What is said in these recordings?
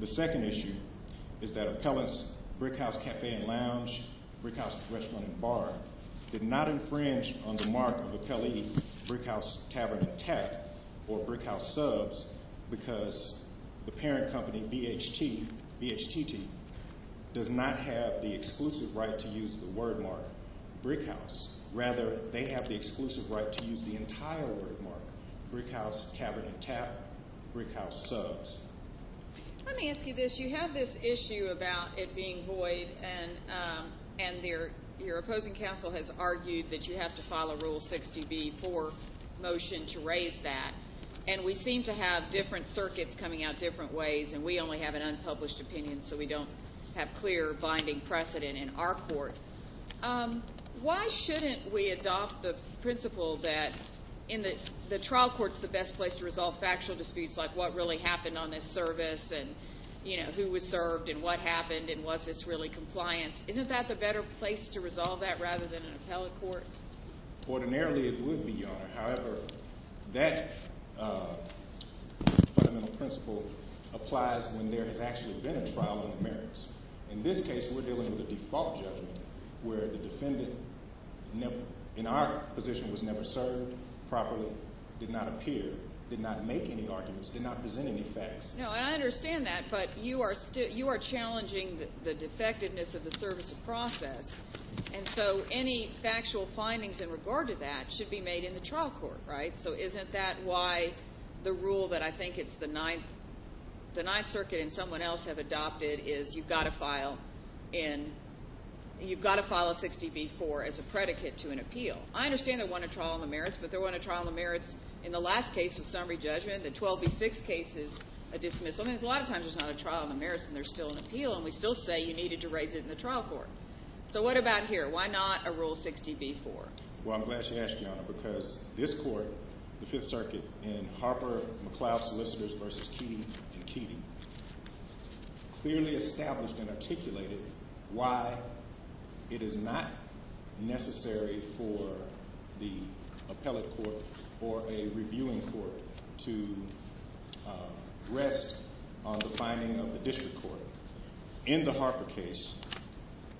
The second issue is that appellants Brickhouse Cafe & Lounge, Brickhouse Restaurant & Bar did not infringe on the mark of appellee Brickhouse Tavern & Tap or Brickhouse Subs because the parent company BHTT does not have the exclusive right to use the wordmark Brickhouse. Rather, they have the exclusive right to use the entire wordmark, Brickhouse Tavern & Tap, Brickhouse Subs. Let me ask you this. You have this issue about it being void and your opposing counsel has argued that you have to file a Rule 60b-4 motion to raise that. And we seem to have different circuits coming out different ways and we only have an unpublished opinion so we don't have clear binding precedent in our court. Why shouldn't we adopt the principle that the trial court is the best place to resolve factual disputes like what really happened on this service and who was served and what happened and was this really compliance? Isn't that the better place to resolve that rather than an appellate court? Ordinarily it would be, Your Honor. However, that fundamental principle applies when there has actually been a trial on the merits. In this case, we're dealing with a default judgment where the defendant in our position was never served properly, did not appear, did not make any arguments, did not present any facts. No, and I understand that, but you are challenging the defectiveness of the service of process. And so any factual findings in regard to that should be made in the trial court, right? So isn't that why the rule that I think it's the Ninth Circuit and someone else have adopted is you've got to file in, you've got to file a 60b-4 as a predicate to an appeal. I understand there wasn't a trial on the merits, but there wasn't a trial on the merits in the last case with summary judgment. The 12b-6 case is a dismissal. I mean, there's a lot of times there's not a trial on the merits and there's still an appeal and we still say you needed to raise it in the trial court. So what about here? Why not a Rule 60b-4? Well, I'm glad you asked, Your Honor, because this court, the Fifth Circuit, in Harper-McLeod Solicitors v. Keating v. Keating, clearly established and articulated why it is not necessary for the appellate court or a reviewing court to rest on the finding of the district court. In the Harper case,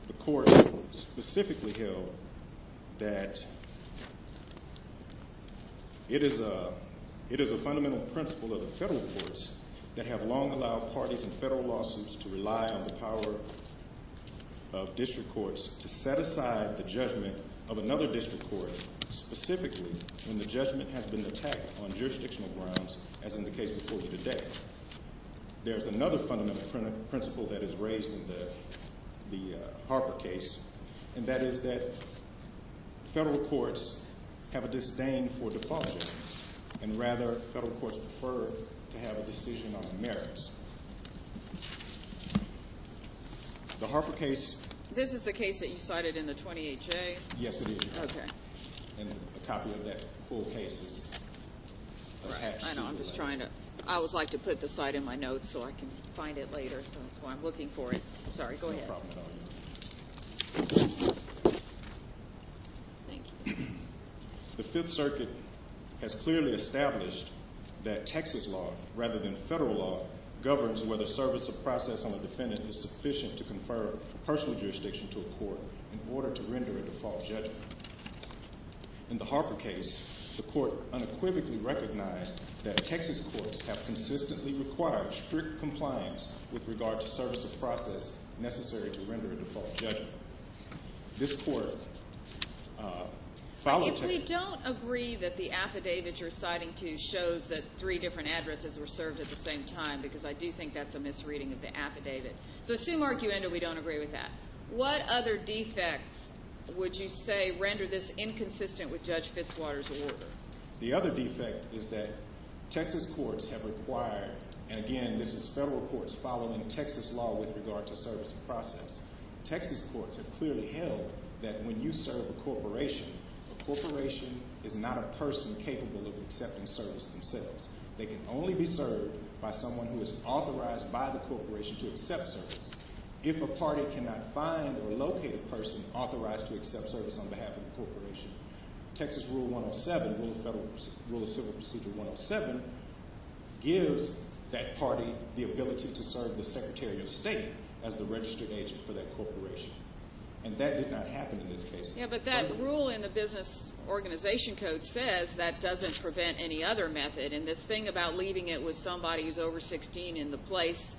the court specifically held that it is a fundamental principle of the federal courts that have long allowed parties in federal lawsuits to rely on the power of district courts to set aside the judgment of another district court specifically when the judgment has been attacked on jurisdictional grounds as in the case reported today. There's another fundamental principle that is raised in the Harper case, and that is that federal courts have a disdain for default judgments, and rather, federal courts prefer to have a decision on the merits. The Harper case— This is the case that you cited in the 28-J? Yes, it is, Your Honor. And a copy of that full case is attached to that. I know, I'm just trying to—I always like to put the cite in my notes so I can find it later, so that's why I'm looking for it. I'm sorry, go ahead. No problem at all, Your Honor. Thank you. The Fifth Circuit has clearly established that Texas law, rather than federal law, governs whether service of process on the defendant is sufficient to confer personal jurisdiction to a court in order to render a default judgment. In the Harper case, the court unequivocally recognized that Texas courts have consistently required strict compliance with regard to service of process necessary to render a default judgment. This court— If we don't agree that the affidavit you're citing to shows that three different addresses were served at the same time, because I do think that's a misreading of the affidavit. So assume, arguendo, we don't agree with that. What other defects would you say render this inconsistent with Judge Fitzwater's order? The other defect is that Texas courts have required—and again, this is federal courts following Texas law with regard to service of process. Texas courts have clearly held that when you serve a corporation, a corporation is not a person capable of accepting service themselves. They can only be served by someone who is authorized by the corporation to accept service. If a party cannot find or locate a person authorized to accept service on behalf of the corporation, Texas Rule 107, Rule of Civil Procedure 107, gives that party the ability to serve the Secretary of State as the registered agent for that corporation. And that did not happen in this case. Yeah, but that rule in the Business Organization Code says that doesn't prevent any other method. And this thing about leaving it with somebody who's over 16 in the place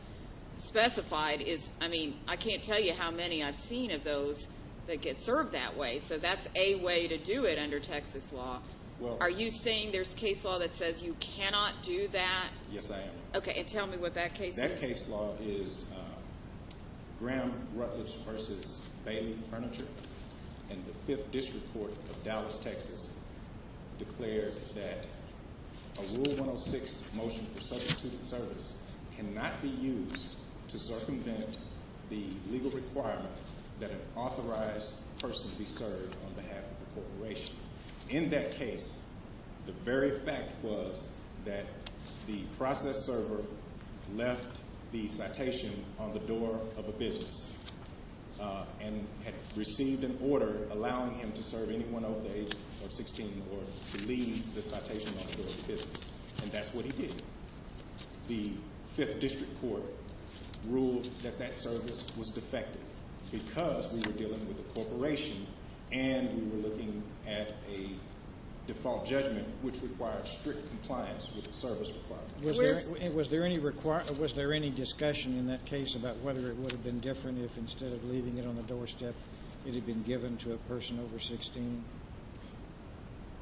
specified is—I mean, I can't tell you how many I've seen of those that get served that way. So that's a way to do it under Texas law. Well— Are you saying there's case law that says you cannot do that? Yes, I am. Okay, and tell me what that case is. That case law is Graham Rutledge v. Bailey Furniture, and the 5th District Court of Dallas, Texas, declared that a Rule 106 motion for substituted service cannot be used to circumvent the legal requirement that an authorized person be served on behalf of the corporation. In that case, the very fact was that the process server left the citation on the door of a business and had received an order allowing him to serve anyone over the age of 16 or to leave the citation on the door of the business. And that's what he did. The 5th District Court ruled that that service was defective because we were dealing with a corporation and we were looking at a default judgment, which required strict compliance with the service requirements. Was there any discussion in that case about whether it would have been different if, instead of leaving it on the doorstep, it had been given to a person over 16?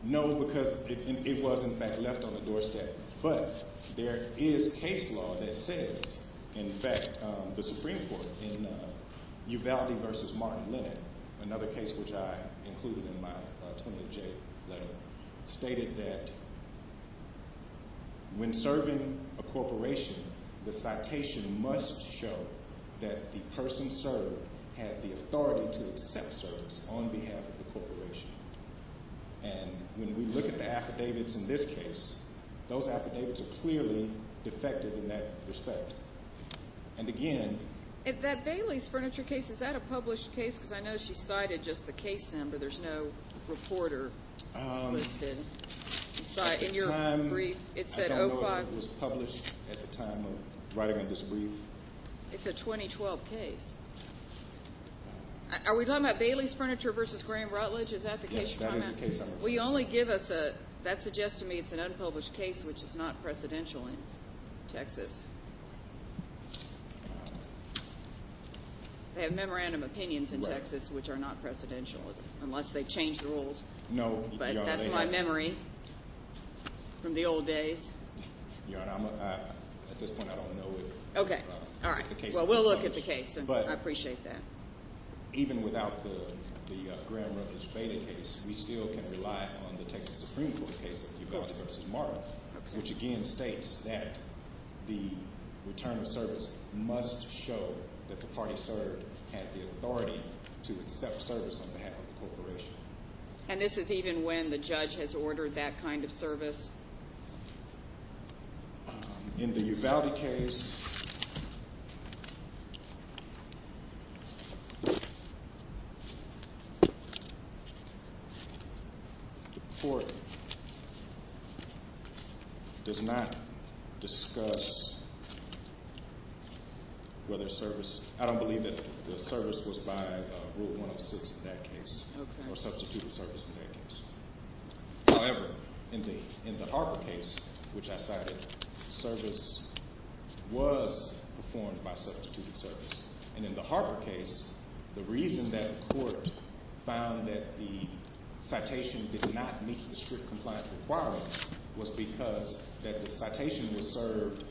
No, because it was, in fact, left on the doorstep. But there is case law that says, in fact, the Supreme Court in Uvalde v. Martin Lennon, another case which I included in my 20J letter, stated that when serving a corporation, the citation must show that the person served had the authority to accept service on behalf of the corporation. And when we look at the affidavits in this case, those affidavits are clearly defective in that respect. And again... That Bailey's Furniture case, is that a published case? Because I know she cited just the case number. There's no reporter listed. At the time, I don't know that it was published at the time of writing this brief. It's a 2012 case. Are we talking about Bailey's Furniture v. Graham Rutledge? Is that the case you're talking about? Yes, that is the case I'm referring to. That suggests to me it's an unpublished case which is not precedential in Texas. They have memorandum opinions in Texas which are not precedential, unless they've changed the rules. No, Your Honor. But that's my memory from the old days. Your Honor, at this point, I don't know it. Well, we'll look at the case. I appreciate that. Even without the Graham Rutledge beta case, we still can rely on the Texas Supreme Court case of Uvalde v. Martin, which again states that the return of service must show that the party served had the authority to accept service on behalf of the corporation. And this is even when the judge has ordered that kind of service? In the Uvalde case, the court does not discuss whether service – I don't believe that the service was by Rule 106 in that case or substituted service in that case. However, in the Harper case, which I cited, service was performed by substituted service. And in the Harper case, the reason that the court found that the citation did not meet the strict compliance requirements was because that the citation was served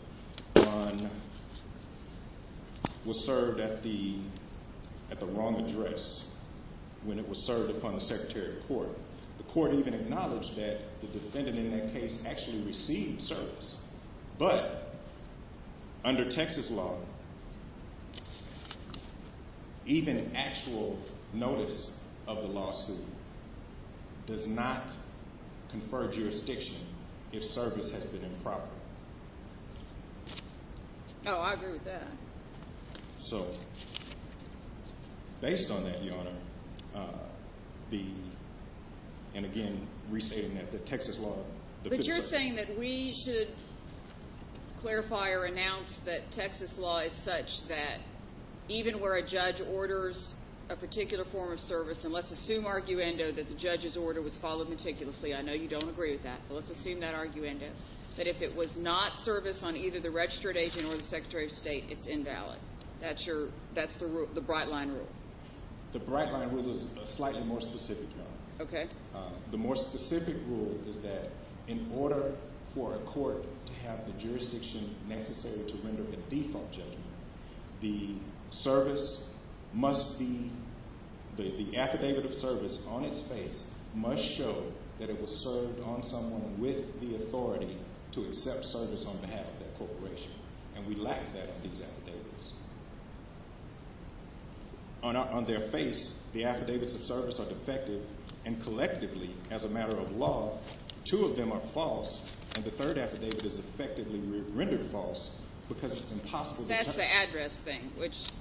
on – was served at the wrong address when it was served upon the Secretary of Court. The court even acknowledged that the defendant in that case actually received service. But under Texas law, even actual notice of the lawsuit does not confer jurisdiction if service has been improper. Oh, I agree with that. So based on that, Your Honor, the – and again, restating that the Texas law – But you're saying that we should clarify or announce that Texas law is such that even where a judge orders a particular form of service, and let's assume arguendo that the judge's order was followed meticulously – I know you don't agree with that, but let's assume that arguendo – That's your – that's the Bright Line Rule. The Bright Line Rule is a slightly more specific, Your Honor. Okay. The more specific rule is that in order for a court to have the jurisdiction necessary to render a default judgment, the service must be – the affidavit of service on its face must show that it was served on someone with the authority to accept service on behalf of that corporation. And we lack that in these affidavits. On their face, the affidavits of service are defective, and collectively, as a matter of law, two of them are false, and the third affidavit is effectively rendered false because it's impossible to – That's the address thing, which –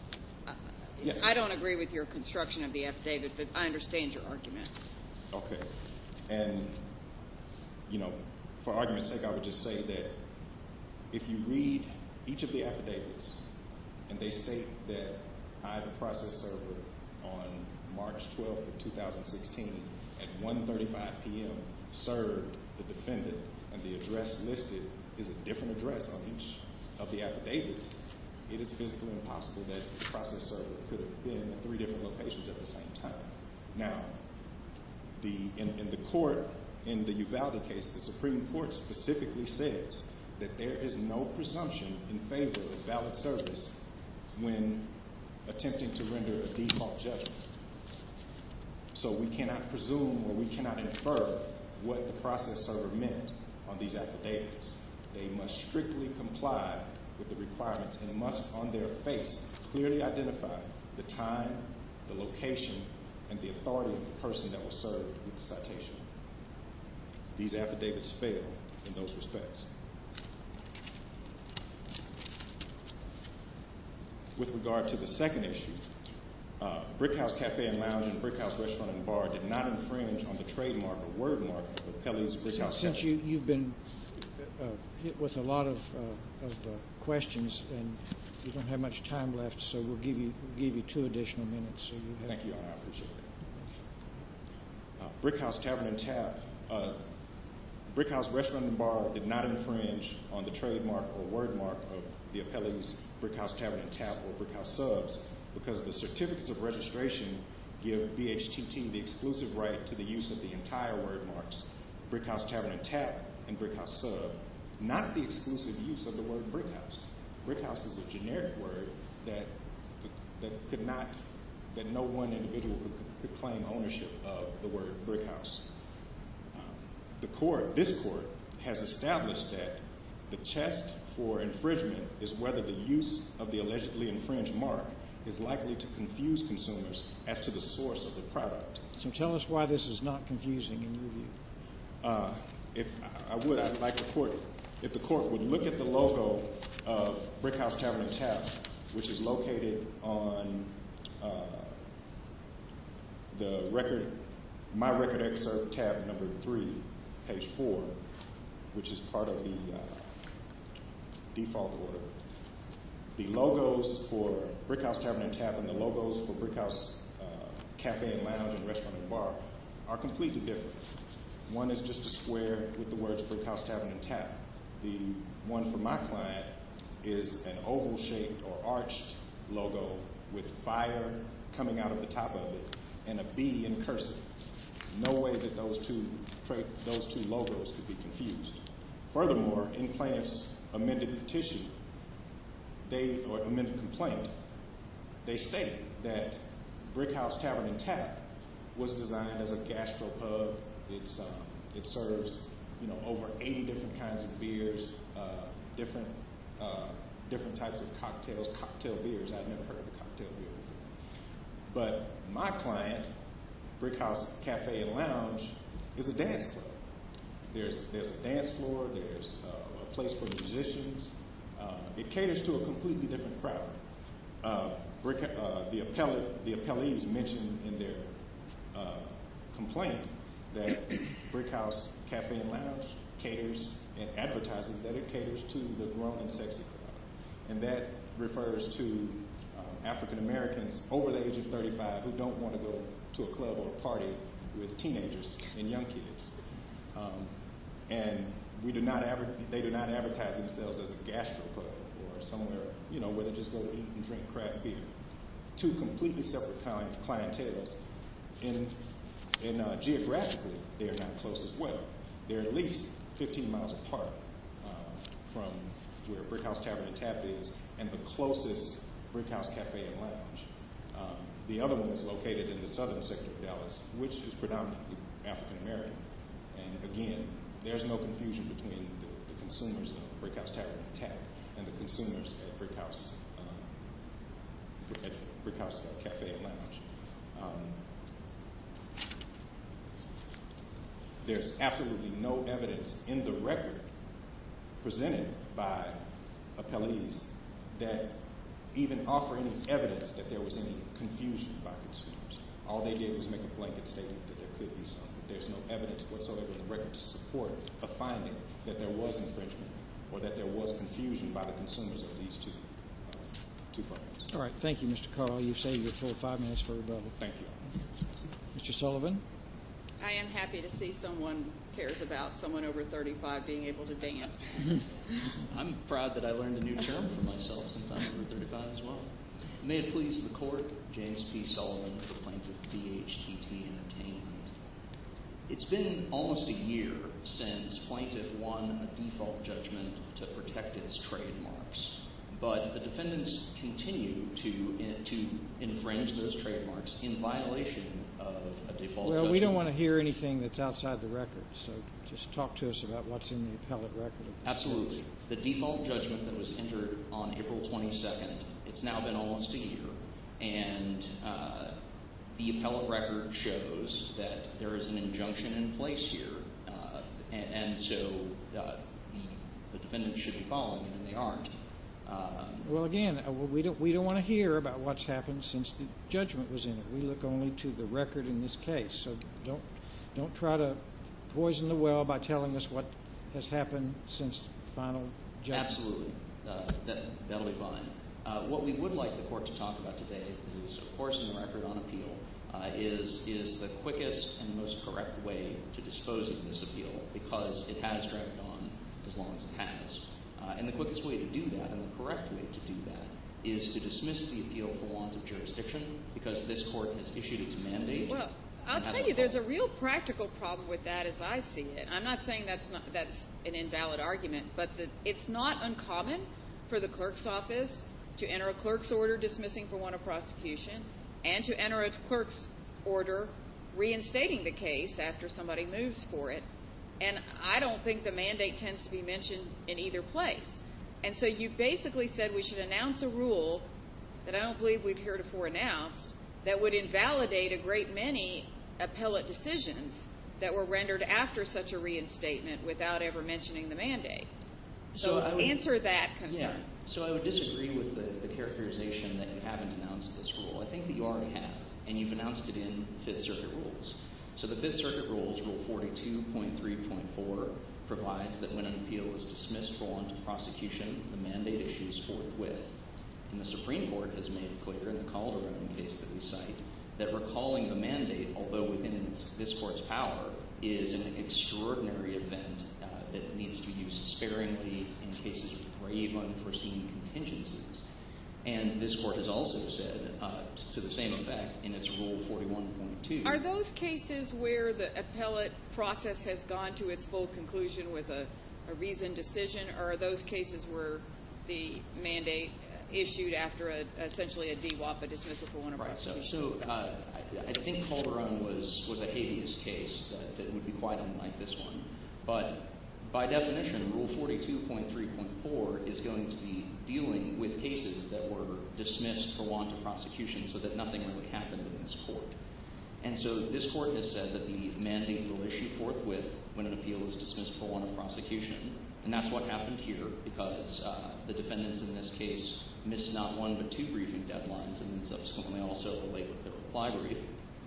Yes. I don't agree with your construction of the affidavit, but I understand your argument. Okay. And, you know, for argument's sake, I would just say that if you read each of the affidavits and they state that I, the process server, on March 12th of 2016 at 1.35 p.m. served the defendant and the address listed is a different address on each of the affidavits, it is physically impossible that the process server could have been in three different locations at the same time. Now, in the court, in the Uvalde case, the Supreme Court specifically says that there is no presumption in favor of valid service when attempting to render a default judgment. So we cannot presume or we cannot infer what the process server meant on these affidavits. They must strictly comply with the requirements and must, on their face, clearly identify the time, the location, and the authority of the person that was served with the citation. These affidavits fail in those respects. With regard to the second issue, Brickhouse Café and Lounge and Brickhouse Restaurant and Bar did not infringe on the trademark or wordmark of Pele's Brickhouse Café. Since you've been hit with a lot of questions and we don't have much time left, so we'll give you two additional minutes. Thank you, Your Honor, I appreciate it. Brickhouse Café and Lounge and Brickhouse Restaurant and Bar did not infringe on the trademark or wordmark of Pele's Brickhouse Café and Lounge or Brickhouse Subs because the certificates of registration give BHTT the exclusive right to the use of the entire wordmarks. Brickhouse Tavern and Tap and Brickhouse Sub not the exclusive use of the word Brickhouse. Brickhouse is a generic word that could not, that no one individual could claim ownership of the word Brickhouse. The court, this court, has established that the test for infringement is whether the use of the allegedly infringed mark is likely to confuse consumers as to the source of the product. So tell us why this is not confusing in your view. If I would, I'd like the court, if the court would look at the logo of Brickhouse Tavern and Tap, which is located on the record, my record excerpt tab number three, page four, which is part of the default order, the logos for Brickhouse Tavern and Tap and the logos for Brickhouse Café and Lounge and Restaurant and Bar are completely different. One is just a square with the words Brickhouse Tavern and Tap. The one for my client is an oval shaped or arched logo with fire coming out of the top of it and a B in cursive. No way that those two logos could be confused. Furthermore, in Plaintiff's amended petition, or amended complaint, they state that Brickhouse Tavern and Tap was designed as a gastropub. It serves over 80 different kinds of beers, different types of cocktails, cocktail beers. I've never heard of a cocktail beer. But my client, Brickhouse Café and Lounge, is a dance club. There's a dance floor. There's a place for musicians. It caters to a completely different crowd. The appellees mentioned in their complaint that Brickhouse Café and Lounge caters and advertises that it caters to the grown and sexy crowd. That refers to African Americans over the age of 35 who don't want to go to a club or party with teenagers and young kids. They do not advertise themselves as a gastropub or somewhere where they just go eat and drink craft beer. Two completely separate clienteles. Geographically, they are not close as well. They're at least 15 miles apart from where Brickhouse Tavern and Tap is and the closest Brickhouse Café and Lounge. The other one is located in the southern sector of Dallas, which is predominantly African American. Again, there's no confusion between the consumers at Brickhouse Tavern and Tap and the consumers at Brickhouse Café and Lounge. There's absolutely no evidence in the record presented by appellees that even offer any evidence that there was any confusion by consumers. All they did was make a blanket statement that there could be some. There's no evidence whatsoever in the record to support a finding that there was infringement or that there was confusion by the consumers of these two parties. All right. Thank you, Mr. Carl. You've saved your full five minutes for rebuttal. Thank you. Mr. Sullivan. I am happy to see someone cares about someone over 35 being able to dance. I'm proud that I learned a new term for myself since I'm over 35 as well. May it please the court, James P. Sullivan, the plaintiff, B.H.T.T. in attainment. It's been almost a year since plaintiff won a default judgment to protect its trademarks. But the defendants continue to infringe those trademarks in violation of a default judgment. Well, we don't want to hear anything that's outside the record, so just talk to us about what's in the appellate record. Absolutely. The default judgment that was entered on April 22nd, it's now been almost a year, and the appellate record shows that there is an injunction in place here. And so the defendants should be following it, and they aren't. Well, again, we don't want to hear about what's happened since the judgment was in it. We look only to the record in this case. So don't try to poison the well by telling us what has happened since the final judgment. Absolutely. That will be fine. What we would like the court to talk about today is, of course, in the record on appeal, is the quickest and most correct way to dispose of this appeal because it has dragged on as long as it has. And the quickest way to do that and the correct way to do that is to dismiss the appeal for launch of jurisdiction because this court has issued its mandate. Well, I'll tell you there's a real practical problem with that as I see it. I'm not saying that's an invalid argument, but it's not uncommon for the clerk's office to enter a clerk's order dismissing for want of prosecution and to enter a clerk's order reinstating the case after somebody moves for it. And I don't think the mandate tends to be mentioned in either place. And so you basically said we should announce a rule that I don't believe we've heretofore announced that would invalidate a great many appellate decisions that were rendered after such a reinstatement without ever mentioning the mandate. So answer that concern. So I would disagree with the characterization that you haven't announced this rule. I think that you already have, and you've announced it in Fifth Circuit rules. So the Fifth Circuit rules, Rule 42.3.4, provides that when an appeal is dismissed for want of prosecution, the mandate issues forthwith. And the Supreme Court has made it clear in the Calderon case that we cite that recalling a mandate, although within this court's power, is an extraordinary event that needs to be used sparingly in cases of grave unforeseen contingencies. And this court has also said to the same effect in its Rule 41.2. Are those cases where the appellate process has gone to its full conclusion with a reasoned decision, or are those cases where the mandate issued after essentially a DWAP, a dismissal for want of prosecution? So I think Calderon was a habeas case that would be quite unlike this one. But by definition, Rule 42.3.4 is going to be dealing with cases that were dismissed for want of prosecution so that nothing really happened in this court. And so this court has said that the mandate will issue forthwith when an appeal is dismissed for want of prosecution. And that's what happened here because the defendants in this case missed not one but two briefing deadlines and then subsequently also delayed the reply brief.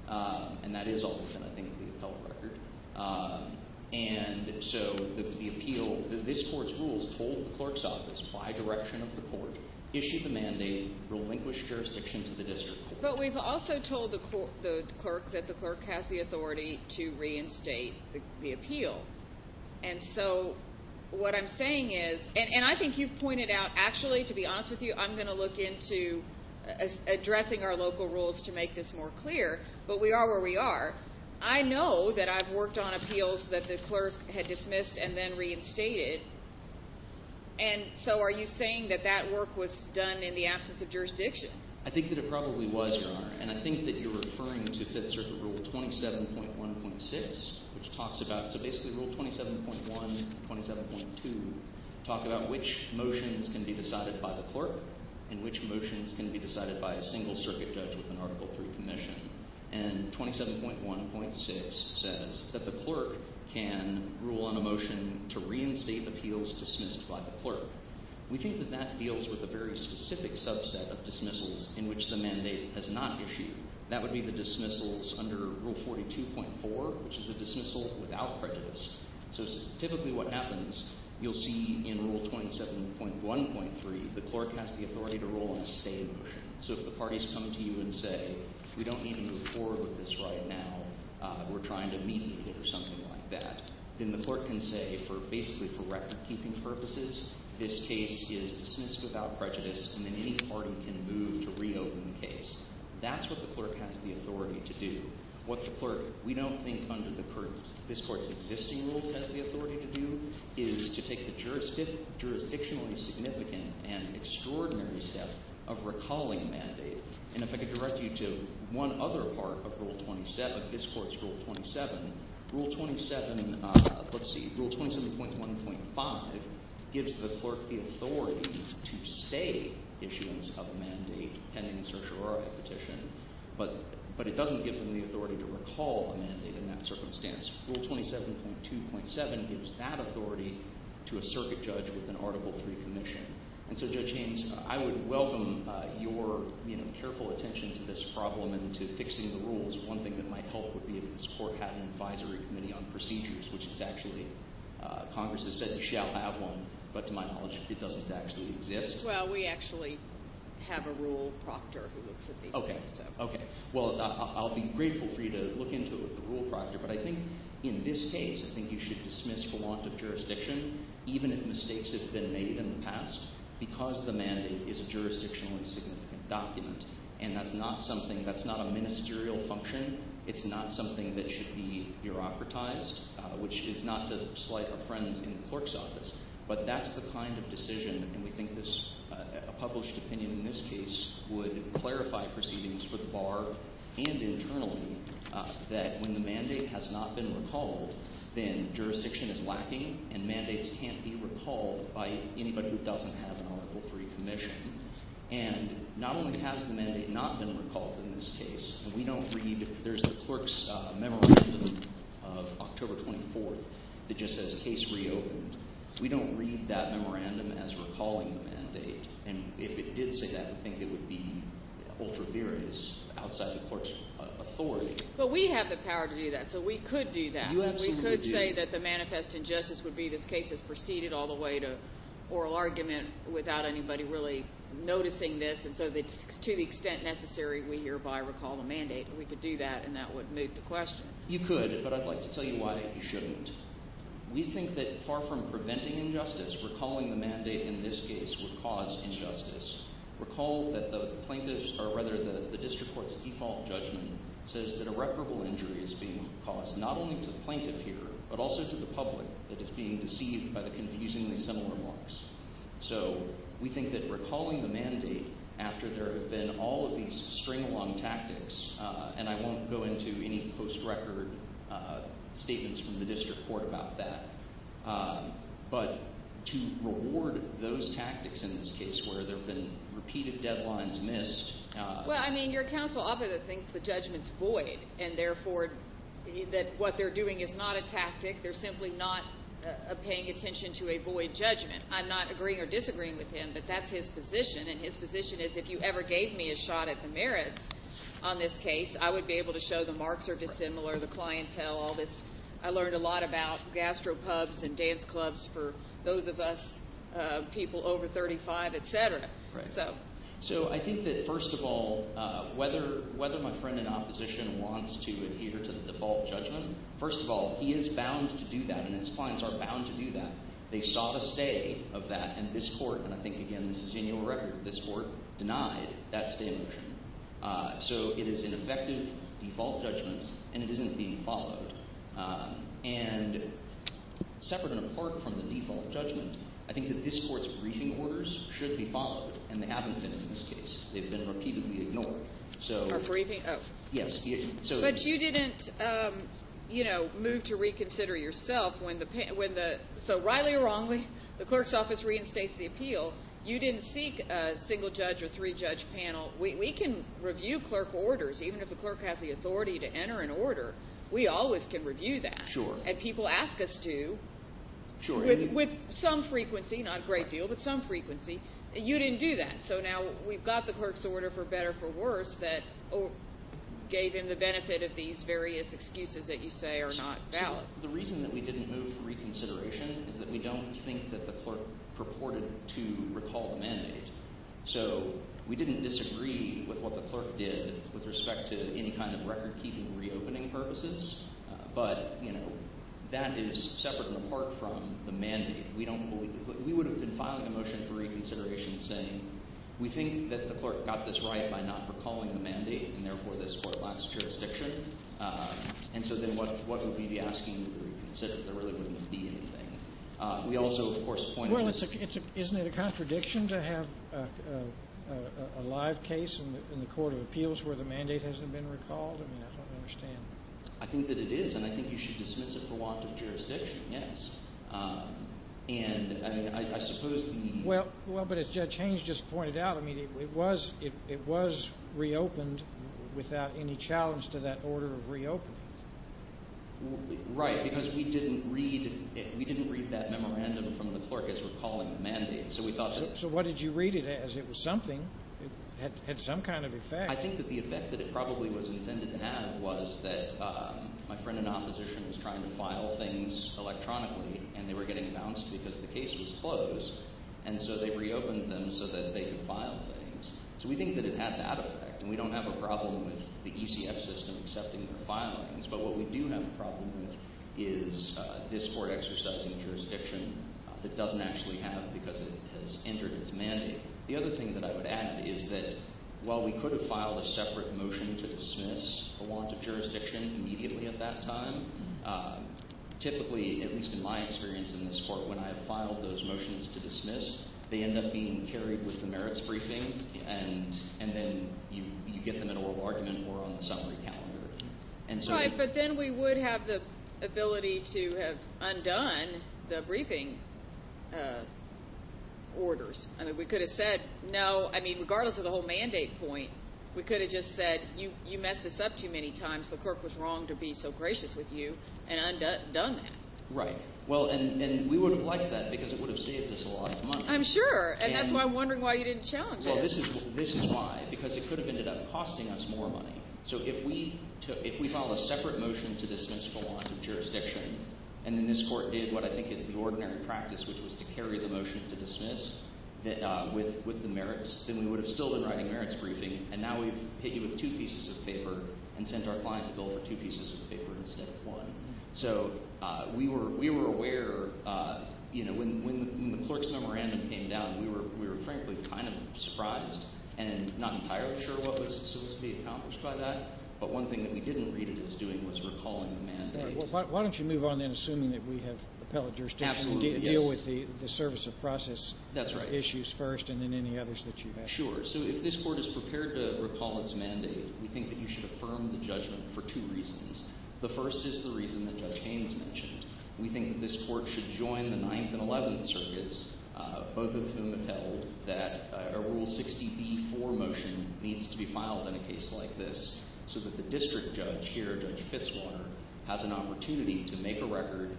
And that is all within, I think, the appellate record. And so the appeal – this court's rules told the clerk's office by direction of the court, issue the mandate, relinquish jurisdiction to the district court. But we've also told the clerk that the clerk has the authority to reinstate the appeal. And so what I'm saying is – and I think you've pointed out – actually, to be honest with you, I'm going to look into addressing our local rules to make this more clear. But we are where we are. I know that I've worked on appeals that the clerk had dismissed and then reinstated. And so are you saying that that work was done in the absence of jurisdiction? I think that it probably was, Your Honor. And I think that you're referring to Fifth Circuit Rule 27.1.6, which talks about – so basically Rule 27.1 and 27.2 talk about which motions can be decided by the clerk and which motions can be decided by a single circuit judge with an Article III commission. And 27.1.6 says that the clerk can rule on a motion to reinstate appeals dismissed by the clerk. We think that that deals with a very specific subset of dismissals in which the mandate has not issued. That would be the dismissals under Rule 42.4, which is a dismissal without prejudice. So typically what happens, you'll see in Rule 27.1.3 the clerk has the authority to rule on a stay motion. So if the parties come to you and say, we don't need to move forward with this right now, we're trying to mediate it or something like that, then the clerk can say for – basically for recordkeeping purposes, this case is dismissed without prejudice and then any party can move to reopen the case. That's what the clerk has the authority to do. What the clerk – we don't think under the current – this Court's existing rules has the authority to do is to take the jurisdictionally significant and extraordinary step of recalling a mandate. And if I could direct you to one other part of Rule 27, this Court's Rule 27. Rule 27 – let's see. Rule 27.1.5 gives the clerk the authority to stay issuance of a mandate pending a certiorari petition, but it doesn't give them the authority to recall a mandate in that circumstance. Rule 27.2.7 gives that authority to a circuit judge with an Article III commission. And so Judge Haynes, I would welcome your careful attention to this problem and to fixing the rules. One thing that might help would be if this Court had an advisory committee on procedures, which is actually – Congress has said you shall have one, but to my knowledge, it doesn't actually exist. Well, we actually have a rule proctor who looks at these things. Okay. Okay. Well, I'll be grateful for you to look into the rule proctor, but I think in this case I think you should dismiss the want of jurisdiction, even if mistakes have been made in the past, because the mandate is a jurisdictionally significant document. And that's not something – that's not a ministerial function. It's not something that should be bureaucratized, which is not to slight our friends in the clerk's office. But that's the kind of decision, and we think this – a published opinion in this case would clarify proceedings for the bar and internally that when the mandate has not been recalled, then jurisdiction is lacking and mandates can't be recalled by anybody who doesn't have an Article III commission. And not only has the mandate not been recalled in this case, we don't read – there's the clerk's memorandum of October 24th that just says case reopened. We don't read that memorandum as recalling the mandate. And if it did say that, I think it would be ultra-verious outside the clerk's authority. But we have the power to do that, so we could do that. You absolutely do. We could say that the manifest injustice would be this case is preceded all the way to oral argument without anybody really noticing this. And so to the extent necessary, we hereby recall the mandate. We could do that, and that would move the question. You could, but I'd like to tell you why you shouldn't. We think that far from preventing injustice, recalling the mandate in this case would cause injustice. Recall that the plaintiff's – or rather the district court's default judgment says that irreparable injury is being caused not only to the plaintiff here but also to the public that is being deceived by the confusingly similar marks. So we think that recalling the mandate after there have been all of these string along tactics – and I won't go into any post-record statements from the district court about that – but to reward those tactics in this case where there have been repeated deadlines missed. Well, I mean your counsel obviously thinks the judgment is void and therefore that what they're doing is not a tactic. They're simply not paying attention to a void judgment. I'm not agreeing or disagreeing with him, but that's his position, and his position is if you ever gave me a shot at the merits on this case, I would be able to show the marks are dissimilar, the clientele, all this. I learned a lot about gastropubs and dance clubs for those of us people over 35, etc. So I think that first of all, whether my friend in opposition wants to adhere to the default judgment, first of all, he is bound to do that, and his clients are bound to do that. They sought a stay of that, and this court – and I think, again, this is in your record – this court denied that stay motion. So it is an effective default judgment, and it isn't being followed. And separate and apart from the default judgment, I think that this court's briefing orders should be followed, and they haven't been in this case. They've been repeatedly ignored. Our briefing? Yes. But you didn't move to reconsider yourself when the – so rightly or wrongly, the clerk's office reinstates the appeal. You didn't seek a single judge or three-judge panel. We can review clerk orders, even if the clerk has the authority to enter an order. We always can review that. Sure. And people ask us to. Sure. With some frequency, not a great deal, but some frequency. You didn't do that. So now we've got the clerk's order for better for worse that gave him the benefit of these various excuses that you say are not valid. The reason that we didn't move for reconsideration is that we don't think that the clerk purported to recall the mandate. So we didn't disagree with what the clerk did with respect to any kind of record-keeping reopening purposes, but that is separate and apart from the mandate. We don't believe – we would have been filing a motion for reconsideration saying we think that the clerk got this right by not recalling the mandate and, therefore, this court lacks jurisdiction. And so then what would we be asking to reconsider if there really wouldn't be anything? We also, of course – Well, isn't it a contradiction to have a live case in the court of appeals where the mandate hasn't been recalled? I mean, I don't understand. I think that it is, and I think you should dismiss it for want of jurisdiction, yes. And I suppose the – Well, but as Judge Haynes just pointed out, I mean, it was reopened without any challenge to that order of reopening. Right, because we didn't read that memorandum from the clerk as recalling the mandate. So we thought that – So what did you read it as? It was something. It had some kind of effect. I think that the effect that it probably was intended to have was that my friend in opposition was trying to file things electronically, and they were getting bounced because the case was closed. And so they reopened them so that they could file things. So we think that it had that effect, and we don't have a problem with the ECF system accepting their filings. But what we do have a problem with is this court exercising jurisdiction that doesn't actually have because it has entered its mandate. The other thing that I would add is that while we could have filed a separate motion to dismiss a warrant of jurisdiction immediately at that time, typically, at least in my experience in this court, when I have filed those motions to dismiss, they end up being carried with the merits briefing, and then you get them in oral argument or on the summary calendar. Right, but then we would have the ability to have undone the briefing orders. I mean, we could have said, no – I mean, regardless of the whole mandate point, we could have just said, you messed this up too many times. The clerk was wrong to be so gracious with you and undone that. Right. Well, and we would have liked that because it would have saved us a lot of money. I'm sure, and that's why I'm wondering why you didn't challenge it. Well, this is why, because it could have ended up costing us more money. So if we filed a separate motion to dismiss a warrant of jurisdiction and then this court did what I think is the ordinary practice, which was to carry the motion to dismiss with the merits, then we would have still been writing merits briefing, and now we've hit you with two pieces of paper and sent our client to bill for two pieces of paper instead of one. So we were aware – when the clerk's memorandum came down, we were frankly kind of surprised and not entirely sure what was supposed to be accomplished by that. But one thing that we didn't read it as doing was recalling the mandate. Why don't you move on then, assuming that we have appellate jurisdiction to deal with the service of process issues first and then any others that you have. Sure. So if this court is prepared to recall its mandate, we think that you should affirm the judgment for two reasons. The first is the reason that Judge Haynes mentioned. We think that this court should join the Ninth and Eleventh Circuits, both of whom have held that a Rule 60b-4 motion needs to be filed in a case like this so that the district judge here, Judge Fitzwater, has an opportunity to make a record,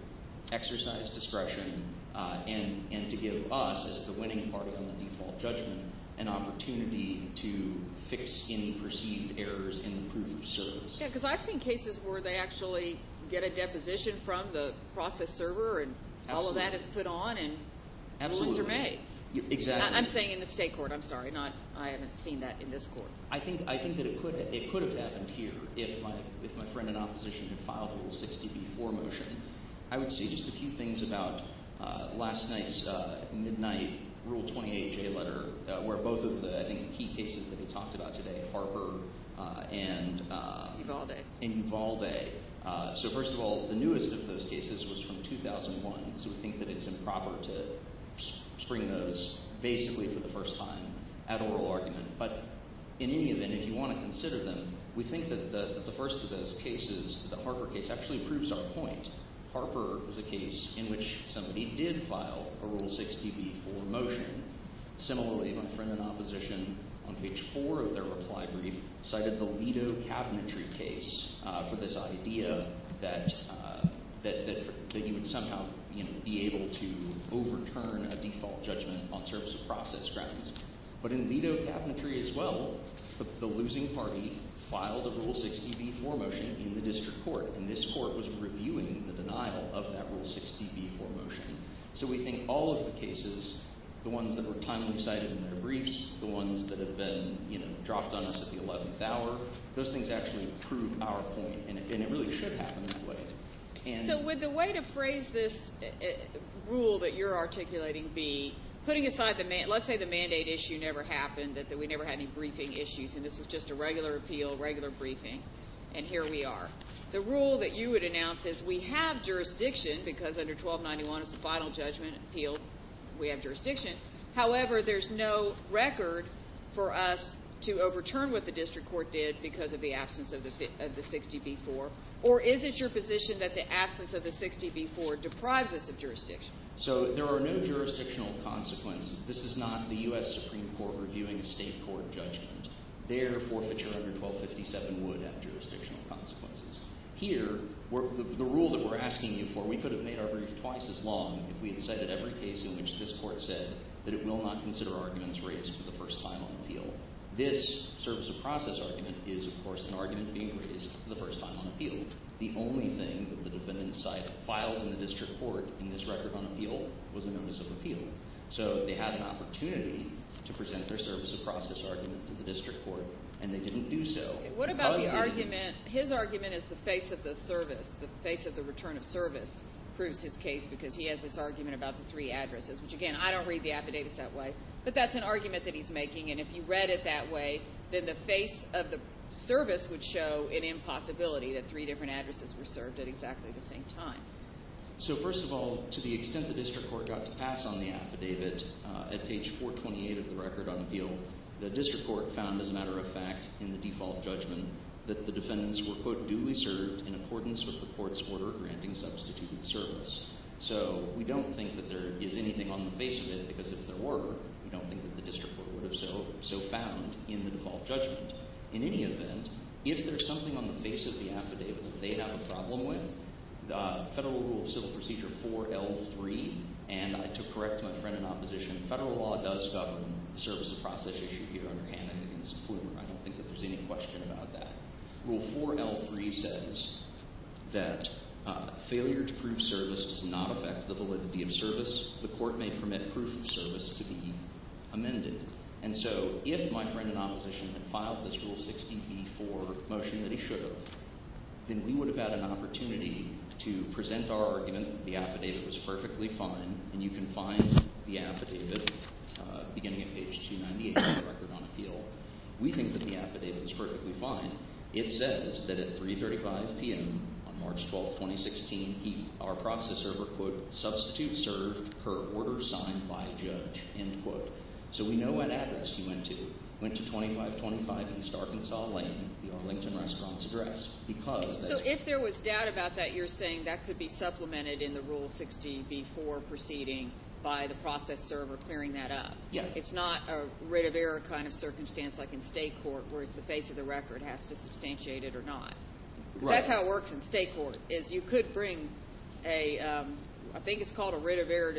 exercise discretion, and to give us as the winning party on the default judgment an opportunity to fix any perceived errors in the proof of service. Because I've seen cases where they actually get a deposition from the process server and all of that is put on and rules are made. Absolutely. Exactly. I'm saying in the state court. I'm sorry. I haven't seen that in this court. I think that it could have happened here if my friend in opposition had filed a Rule 60b-4 motion. I would say just a few things about last night's midnight Rule 28J letter where both of the, I think, key cases that we talked about today, Harper and… Ivalde. So first of all, the newest of those cases was from 2001. So we think that it's improper to spring those basically for the first time at oral argument. But in any event, if you want to consider them, we think that the first of those cases, the Harper case, actually proves our point. Harper was a case in which somebody did file a Rule 60b-4 motion. Similarly, my friend in opposition on page four of their reply brief cited the Lido cabinetry case for this idea that you would somehow be able to overturn a default judgment on service of process grounds. But in Lido cabinetry as well, the losing party filed a Rule 60b-4 motion in the district court. And this court was reviewing the denial of that Rule 60b-4 motion. So we think all of the cases, the ones that were timely cited in their briefs, the ones that have been dropped on us at the eleventh hour, those things actually prove our point. And it really should happen this way. So would the way to phrase this rule that you're articulating be putting aside the – let's say the mandate issue never happened, that we never had any briefing issues, and this was just a regular appeal, regular briefing, and here we are. The rule that you would announce is we have jurisdiction because under 1291 it's a final judgment appeal. We have jurisdiction. However, there's no record for us to overturn what the district court did because of the absence of the 60b-4. Or is it your position that the absence of the 60b-4 deprives us of jurisdiction? So there are no jurisdictional consequences. This is not the U.S. Supreme Court reviewing a state court judgment. Their forfeiture under 1257 would have jurisdictional consequences. Here, the rule that we're asking you for, we could have made our brief twice as long if we had cited every case in which this court said that it will not consider arguments raised for the first time on appeal. This service of process argument is, of course, an argument being raised for the first time on appeal. The only thing that the defendant's side filed in the district court in this record on appeal was a notice of appeal. So they had an opportunity to present their service of process argument to the district court, and they didn't do so. What about the argument? His argument is the face of the service, the face of the return of service proves his case because he has this argument about the three addresses, which, again, I don't read the affidavits that way. But that's an argument that he's making, and if you read it that way, then the face of the service would show an impossibility that three different addresses were served at exactly the same time. So, first of all, to the extent the district court got to pass on the affidavit, at page 428 of the record on appeal, the district court found, as a matter of fact, in the default judgment that the defendants were, quote, duly served in accordance with the court's order granting substituted service. So we don't think that there is anything on the face of it because if there were, we don't think that the district court would have so found in the default judgment. In any event, if there's something on the face of the affidavit that they have a problem with, Federal Rule of Civil Procedure 4L3, and to correct my friend in opposition, federal law does govern the service of process issue here under Hammond against Plumer. I don't think that there's any question about that. Rule 4L3 says that failure to prove service does not affect the validity of service. The court may permit proof of service to be amended. And so if my friend in opposition had filed this Rule 60b-4 motion that he should have, then we would have had an opportunity to present our argument that the affidavit was perfectly fine, and you can find the affidavit beginning at page 298 of the record on appeal. We think that the affidavit is perfectly fine. It says that at 335 p.m. on March 12th, 2016, our process server, quote, substitute served per order signed by judge, end quote. So we know what address he went to. He went to 2525 East Arkansas Lane, the Arlington Restaurant's address. So if there was doubt about that, you're saying that could be supplemented in the Rule 60b-4 proceeding by the process server clearing that up. It's not a writ of error kind of circumstance like in state court where it's the face of the record has to substantiate it or not. That's how it works in state court is you could bring a – I think it's called a writ of error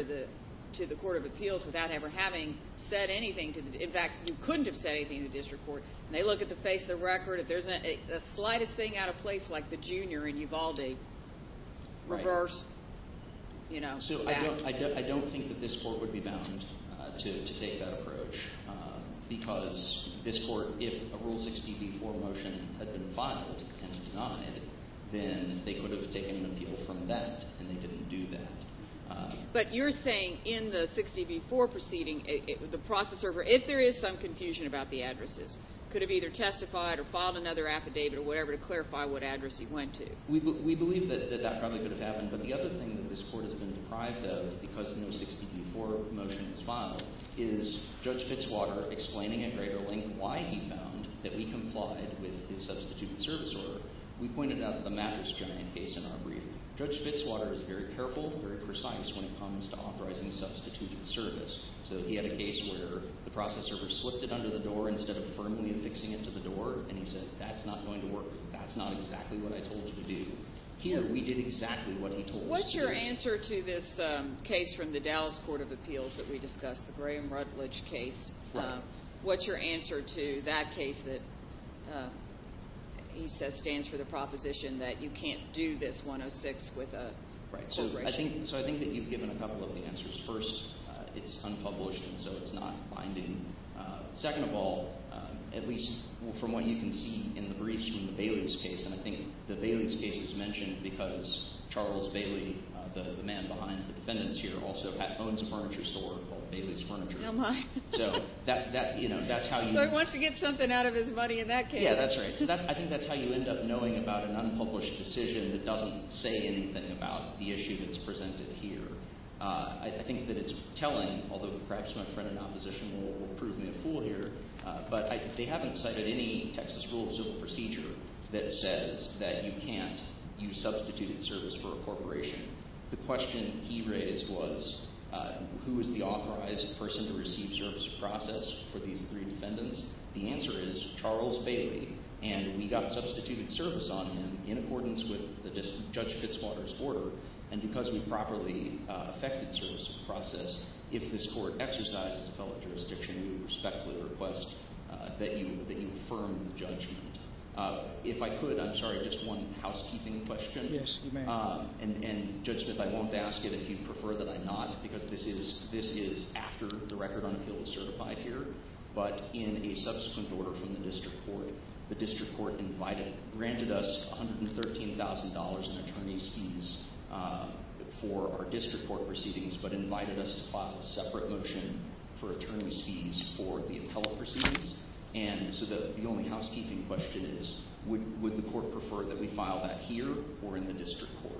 to the court of appeals without ever having said anything. In fact, you couldn't have said anything to the district court, and they look at the face of the record. If there's a slightest thing out of place like the junior in Uvalde, reverse. So I don't think that this court would be bound to take that approach because this court, if a Rule 60b-4 motion had been filed and denied, then they could have taken an appeal from that, and they didn't do that. But you're saying in the 60b-4 proceeding, the process server, if there is some confusion about the addresses, could have either testified or filed another affidavit or whatever to clarify what address he went to. We believe that that probably could have happened, but the other thing that this court has been deprived of because no 60b-4 motion was filed is Judge Fitzwater explaining at greater length why he found that we complied with the substituted service order. We pointed out the mattress giant case in our briefing. Judge Fitzwater is very careful, very precise when it comes to authorizing substituted service. So he had a case where the process server slipped it under the door instead of firmly affixing it to the door, and he said that's not going to work because that's not exactly what I told you to do. Here, we did exactly what he told us to do. What's your answer to this case from the Dallas Court of Appeals that we discussed, the Graham Rutledge case? What's your answer to that case that he says stands for the proposition that you can't do this 106 with a corporation? So I think that you've given a couple of the answers. First, it's unpublished, and so it's not binding. Second of all, at least from what you can see in the briefs from the Bailey's case, and I think the Bailey's case is mentioned because Charles Bailey, the man behind the defendants here, also owns a furniture store called Bailey's Furniture. Oh, my. So that's how you— So he wants to get something out of his money in that case. Yeah, that's right. I think that's how you end up knowing about an unpublished decision that doesn't say anything about the issue that's presented here. I think that it's telling, although perhaps my friend in opposition will prove me a fool here, but they haven't cited any Texas rule of civil procedure that says that you can't use substituted service for a corporation. The question he raised was who is the authorized person to receive service process for these three defendants. The answer is Charles Bailey, and we got substituted service on him in accordance with Judge Fitzwater's order. And because we properly effected service process, if this court exercises a fellow jurisdiction, we respectfully request that you affirm the judgment. If I could, I'm sorry, just one housekeeping question. Yes, you may. And, Judge Smith, I won't ask it if you'd prefer that I not, because this is after the record on appeal is certified here. But in a subsequent order from the district court, the district court granted us $113,000 in attorney's fees for our district court proceedings but invited us to file a separate motion for attorney's fees for the appellate proceedings. And so the only housekeeping question is would the court prefer that we file that here or in the district court?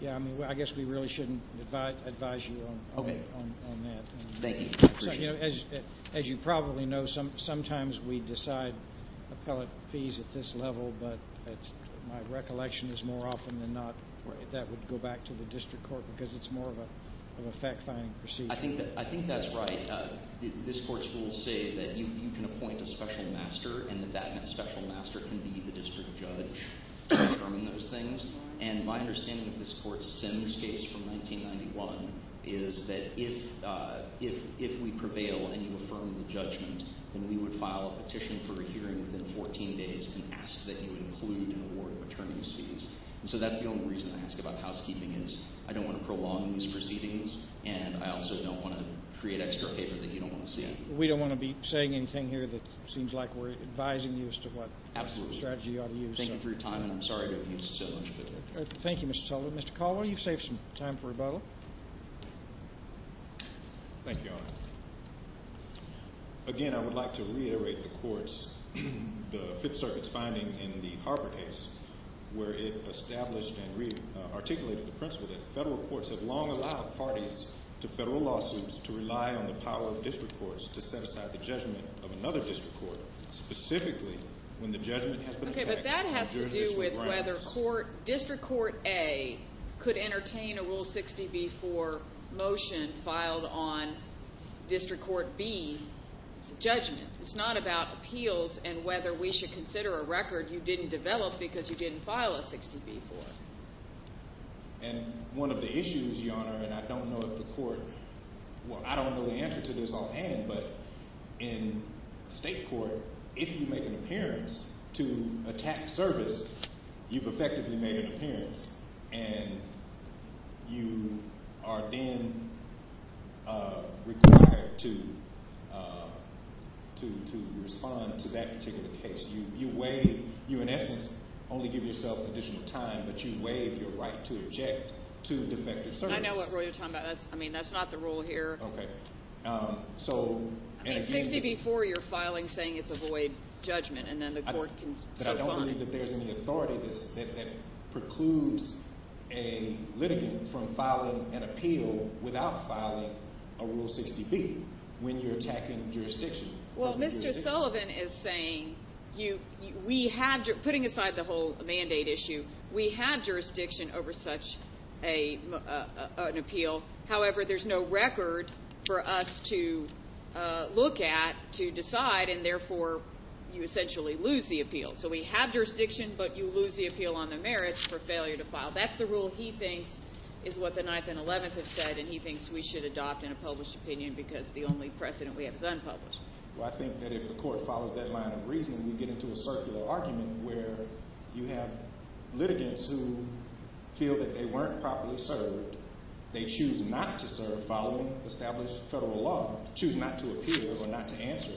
Yeah, I mean, I guess we really shouldn't advise you on that. Thank you. I appreciate it. As you probably know, sometimes we decide appellate fees at this level, but my recollection is more often than not that would go back to the district court because it's more of a fact-finding procedure. I think that's right. This court's rules say that you can appoint a special master and that that special master can be the district judge in confirming those things. And my understanding of this court's Sims case from 1991 is that if we prevail and you affirm the judgment, then we would file a petition for a hearing within 14 days and ask that you include and award attorney's fees. And so that's the only reason I ask about housekeeping is I don't want to prolong these proceedings, and I also don't want to create extra paper that you don't want to see. We don't want to be saying anything here that seems like we're advising you as to what strategy you ought to use. Thank you for your time, and I'm sorry to have used it so much. Thank you, Mr. Sullivan. Mr. Caldwell, you've saved some time for rebuttal. Thank you, Your Honor. Again, I would like to reiterate the court's – the Fifth Circuit's finding in the Harvard case where it established and articulated the principle that federal courts have long allowed parties to federal lawsuits to rely on the power of district courts to set aside the judgment of another district court, specifically when the judgment has been taken. Okay, but that has to do with whether District Court A could entertain a Rule 60b-4 motion filed on District Court B's judgment. It's not about appeals and whether we should consider a record you didn't develop because you didn't file a 60b-4. And one of the issues, Your Honor, and I don't know if the court – well, I don't know the answer to this offhand, but in state court, if you make an appearance to attack service, you've effectively made an appearance, and you are then required to respond to that particular case. You waive – you, in essence, only give yourself additional time, but you waive your right to object to defective service. I know what rule you're talking about. That's – I mean, that's not the rule here. Okay. So – I mean, 60b-4, you're filing saying it's a void judgment, and then the court can suborn it. But I don't believe that there's any authority that precludes a litigant from filing an appeal without filing a Rule 60b when you're attacking jurisdiction. Well, Mr. Sullivan is saying you – we have – putting aside the whole mandate issue, we have jurisdiction over such an appeal. However, there's no record for us to look at to decide, and therefore, you essentially lose the appeal. So we have jurisdiction, but you lose the appeal on the merits for failure to file. That's the rule he thinks is what the 9th and 11th have said, and he thinks we should adopt in a published opinion because the only precedent we have is unpublished. Well, I think that if the court follows that line of reasoning, we get into a circular argument where you have litigants who feel that they weren't properly served. They choose not to serve following established federal law, choose not to appeal or not to answer,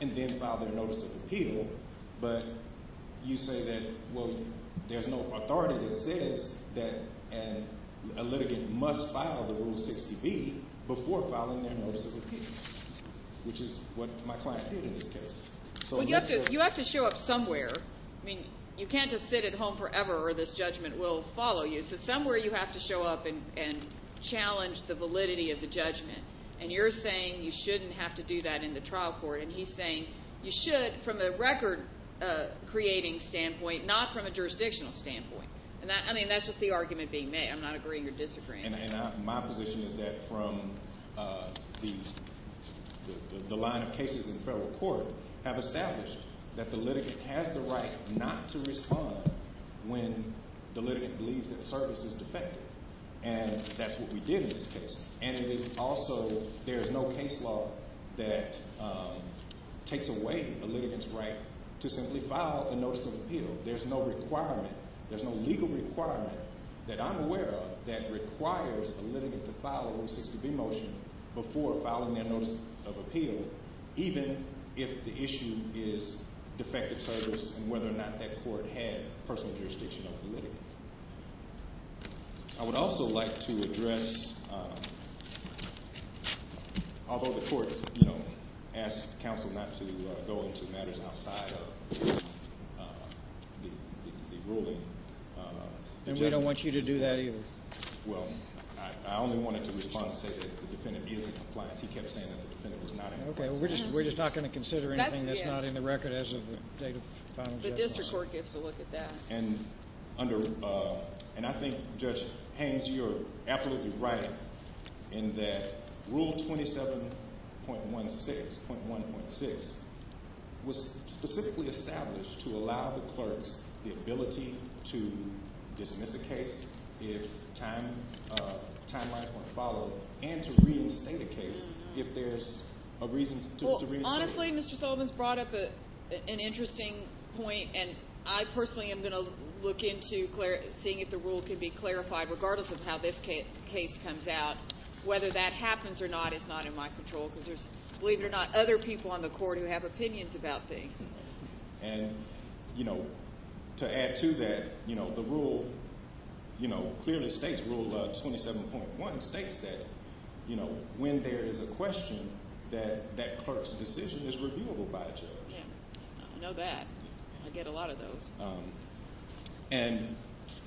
and then file their notice of appeal. But you say that, well, there's no authority that says that a litigant must file the Rule 60b before filing their notice of appeal, which is what my client did in this case. Well, you have to show up somewhere. I mean, you can't just sit at home forever or this judgment will follow you. So somewhere you have to show up and challenge the validity of the judgment, and you're saying you shouldn't have to do that in the trial court. And he's saying you should from a record-creating standpoint, not from a jurisdictional standpoint. I mean, that's just the argument being made. I'm not agreeing or disagreeing. And my position is that from the line of cases in federal court have established that the litigant has the right not to respond when the litigant believes that the service is defective. And that's what we did in this case. And it is also there is no case law that takes away a litigant's right to simply file a notice of appeal. There's no requirement. There's no legal requirement that I'm aware of that requires a litigant to file a Rule 60b motion before filing their notice of appeal, even if the issue is defective service and whether or not that court had personal jurisdiction over the litigant. I would also like to address, although the court, you know, asked counsel not to go into matters outside of the ruling. And we don't want you to do that either. Well, I only wanted to respond and say that the defendant is in compliance. He kept saying that the defendant was not in compliance. Okay, well, we're just not going to consider anything that's not in the record as of the date of final judgment. The district court gets to look at that. And I think Judge Haynes, you're absolutely right in that Rule 27.16.1.6 was specifically established to allow the clerks the ability to dismiss a case if timelines weren't followed and to reinstate a case if there's a reason to reinstate a case. Honestly, Mr. Sullivan's brought up an interesting point, and I personally am going to look into seeing if the rule can be clarified regardless of how this case comes out. Whether that happens or not is not in my control because there's, believe it or not, other people on the court who have opinions about things. And, you know, to add to that, you know, the rule, you know, clearly states Rule 27.1 states that, you know, when there is a question that that clerk's decision is reviewable by a judge. Yeah, I know that. I get a lot of those. And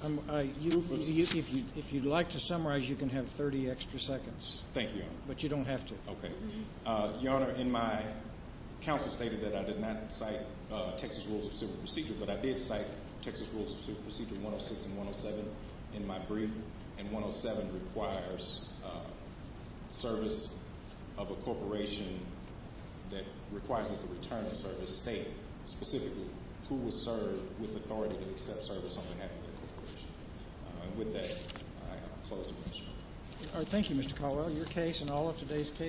if you'd like to summarize, you can have 30 extra seconds. Thank you, Your Honor. But you don't have to. Okay. Your Honor, in my counsel stated that I did not cite Texas Rules of Civil Procedure, but I did cite Texas Rules of Civil Procedure 106 and 107 in my brief. And 107 requires service of a corporation that requires me to return a service stating specifically who was served with authority to accept service on behalf of the corporation. And with that, I close the motion. All right. Thank you, Mr. Caldwell. Your case, and all of today's cases...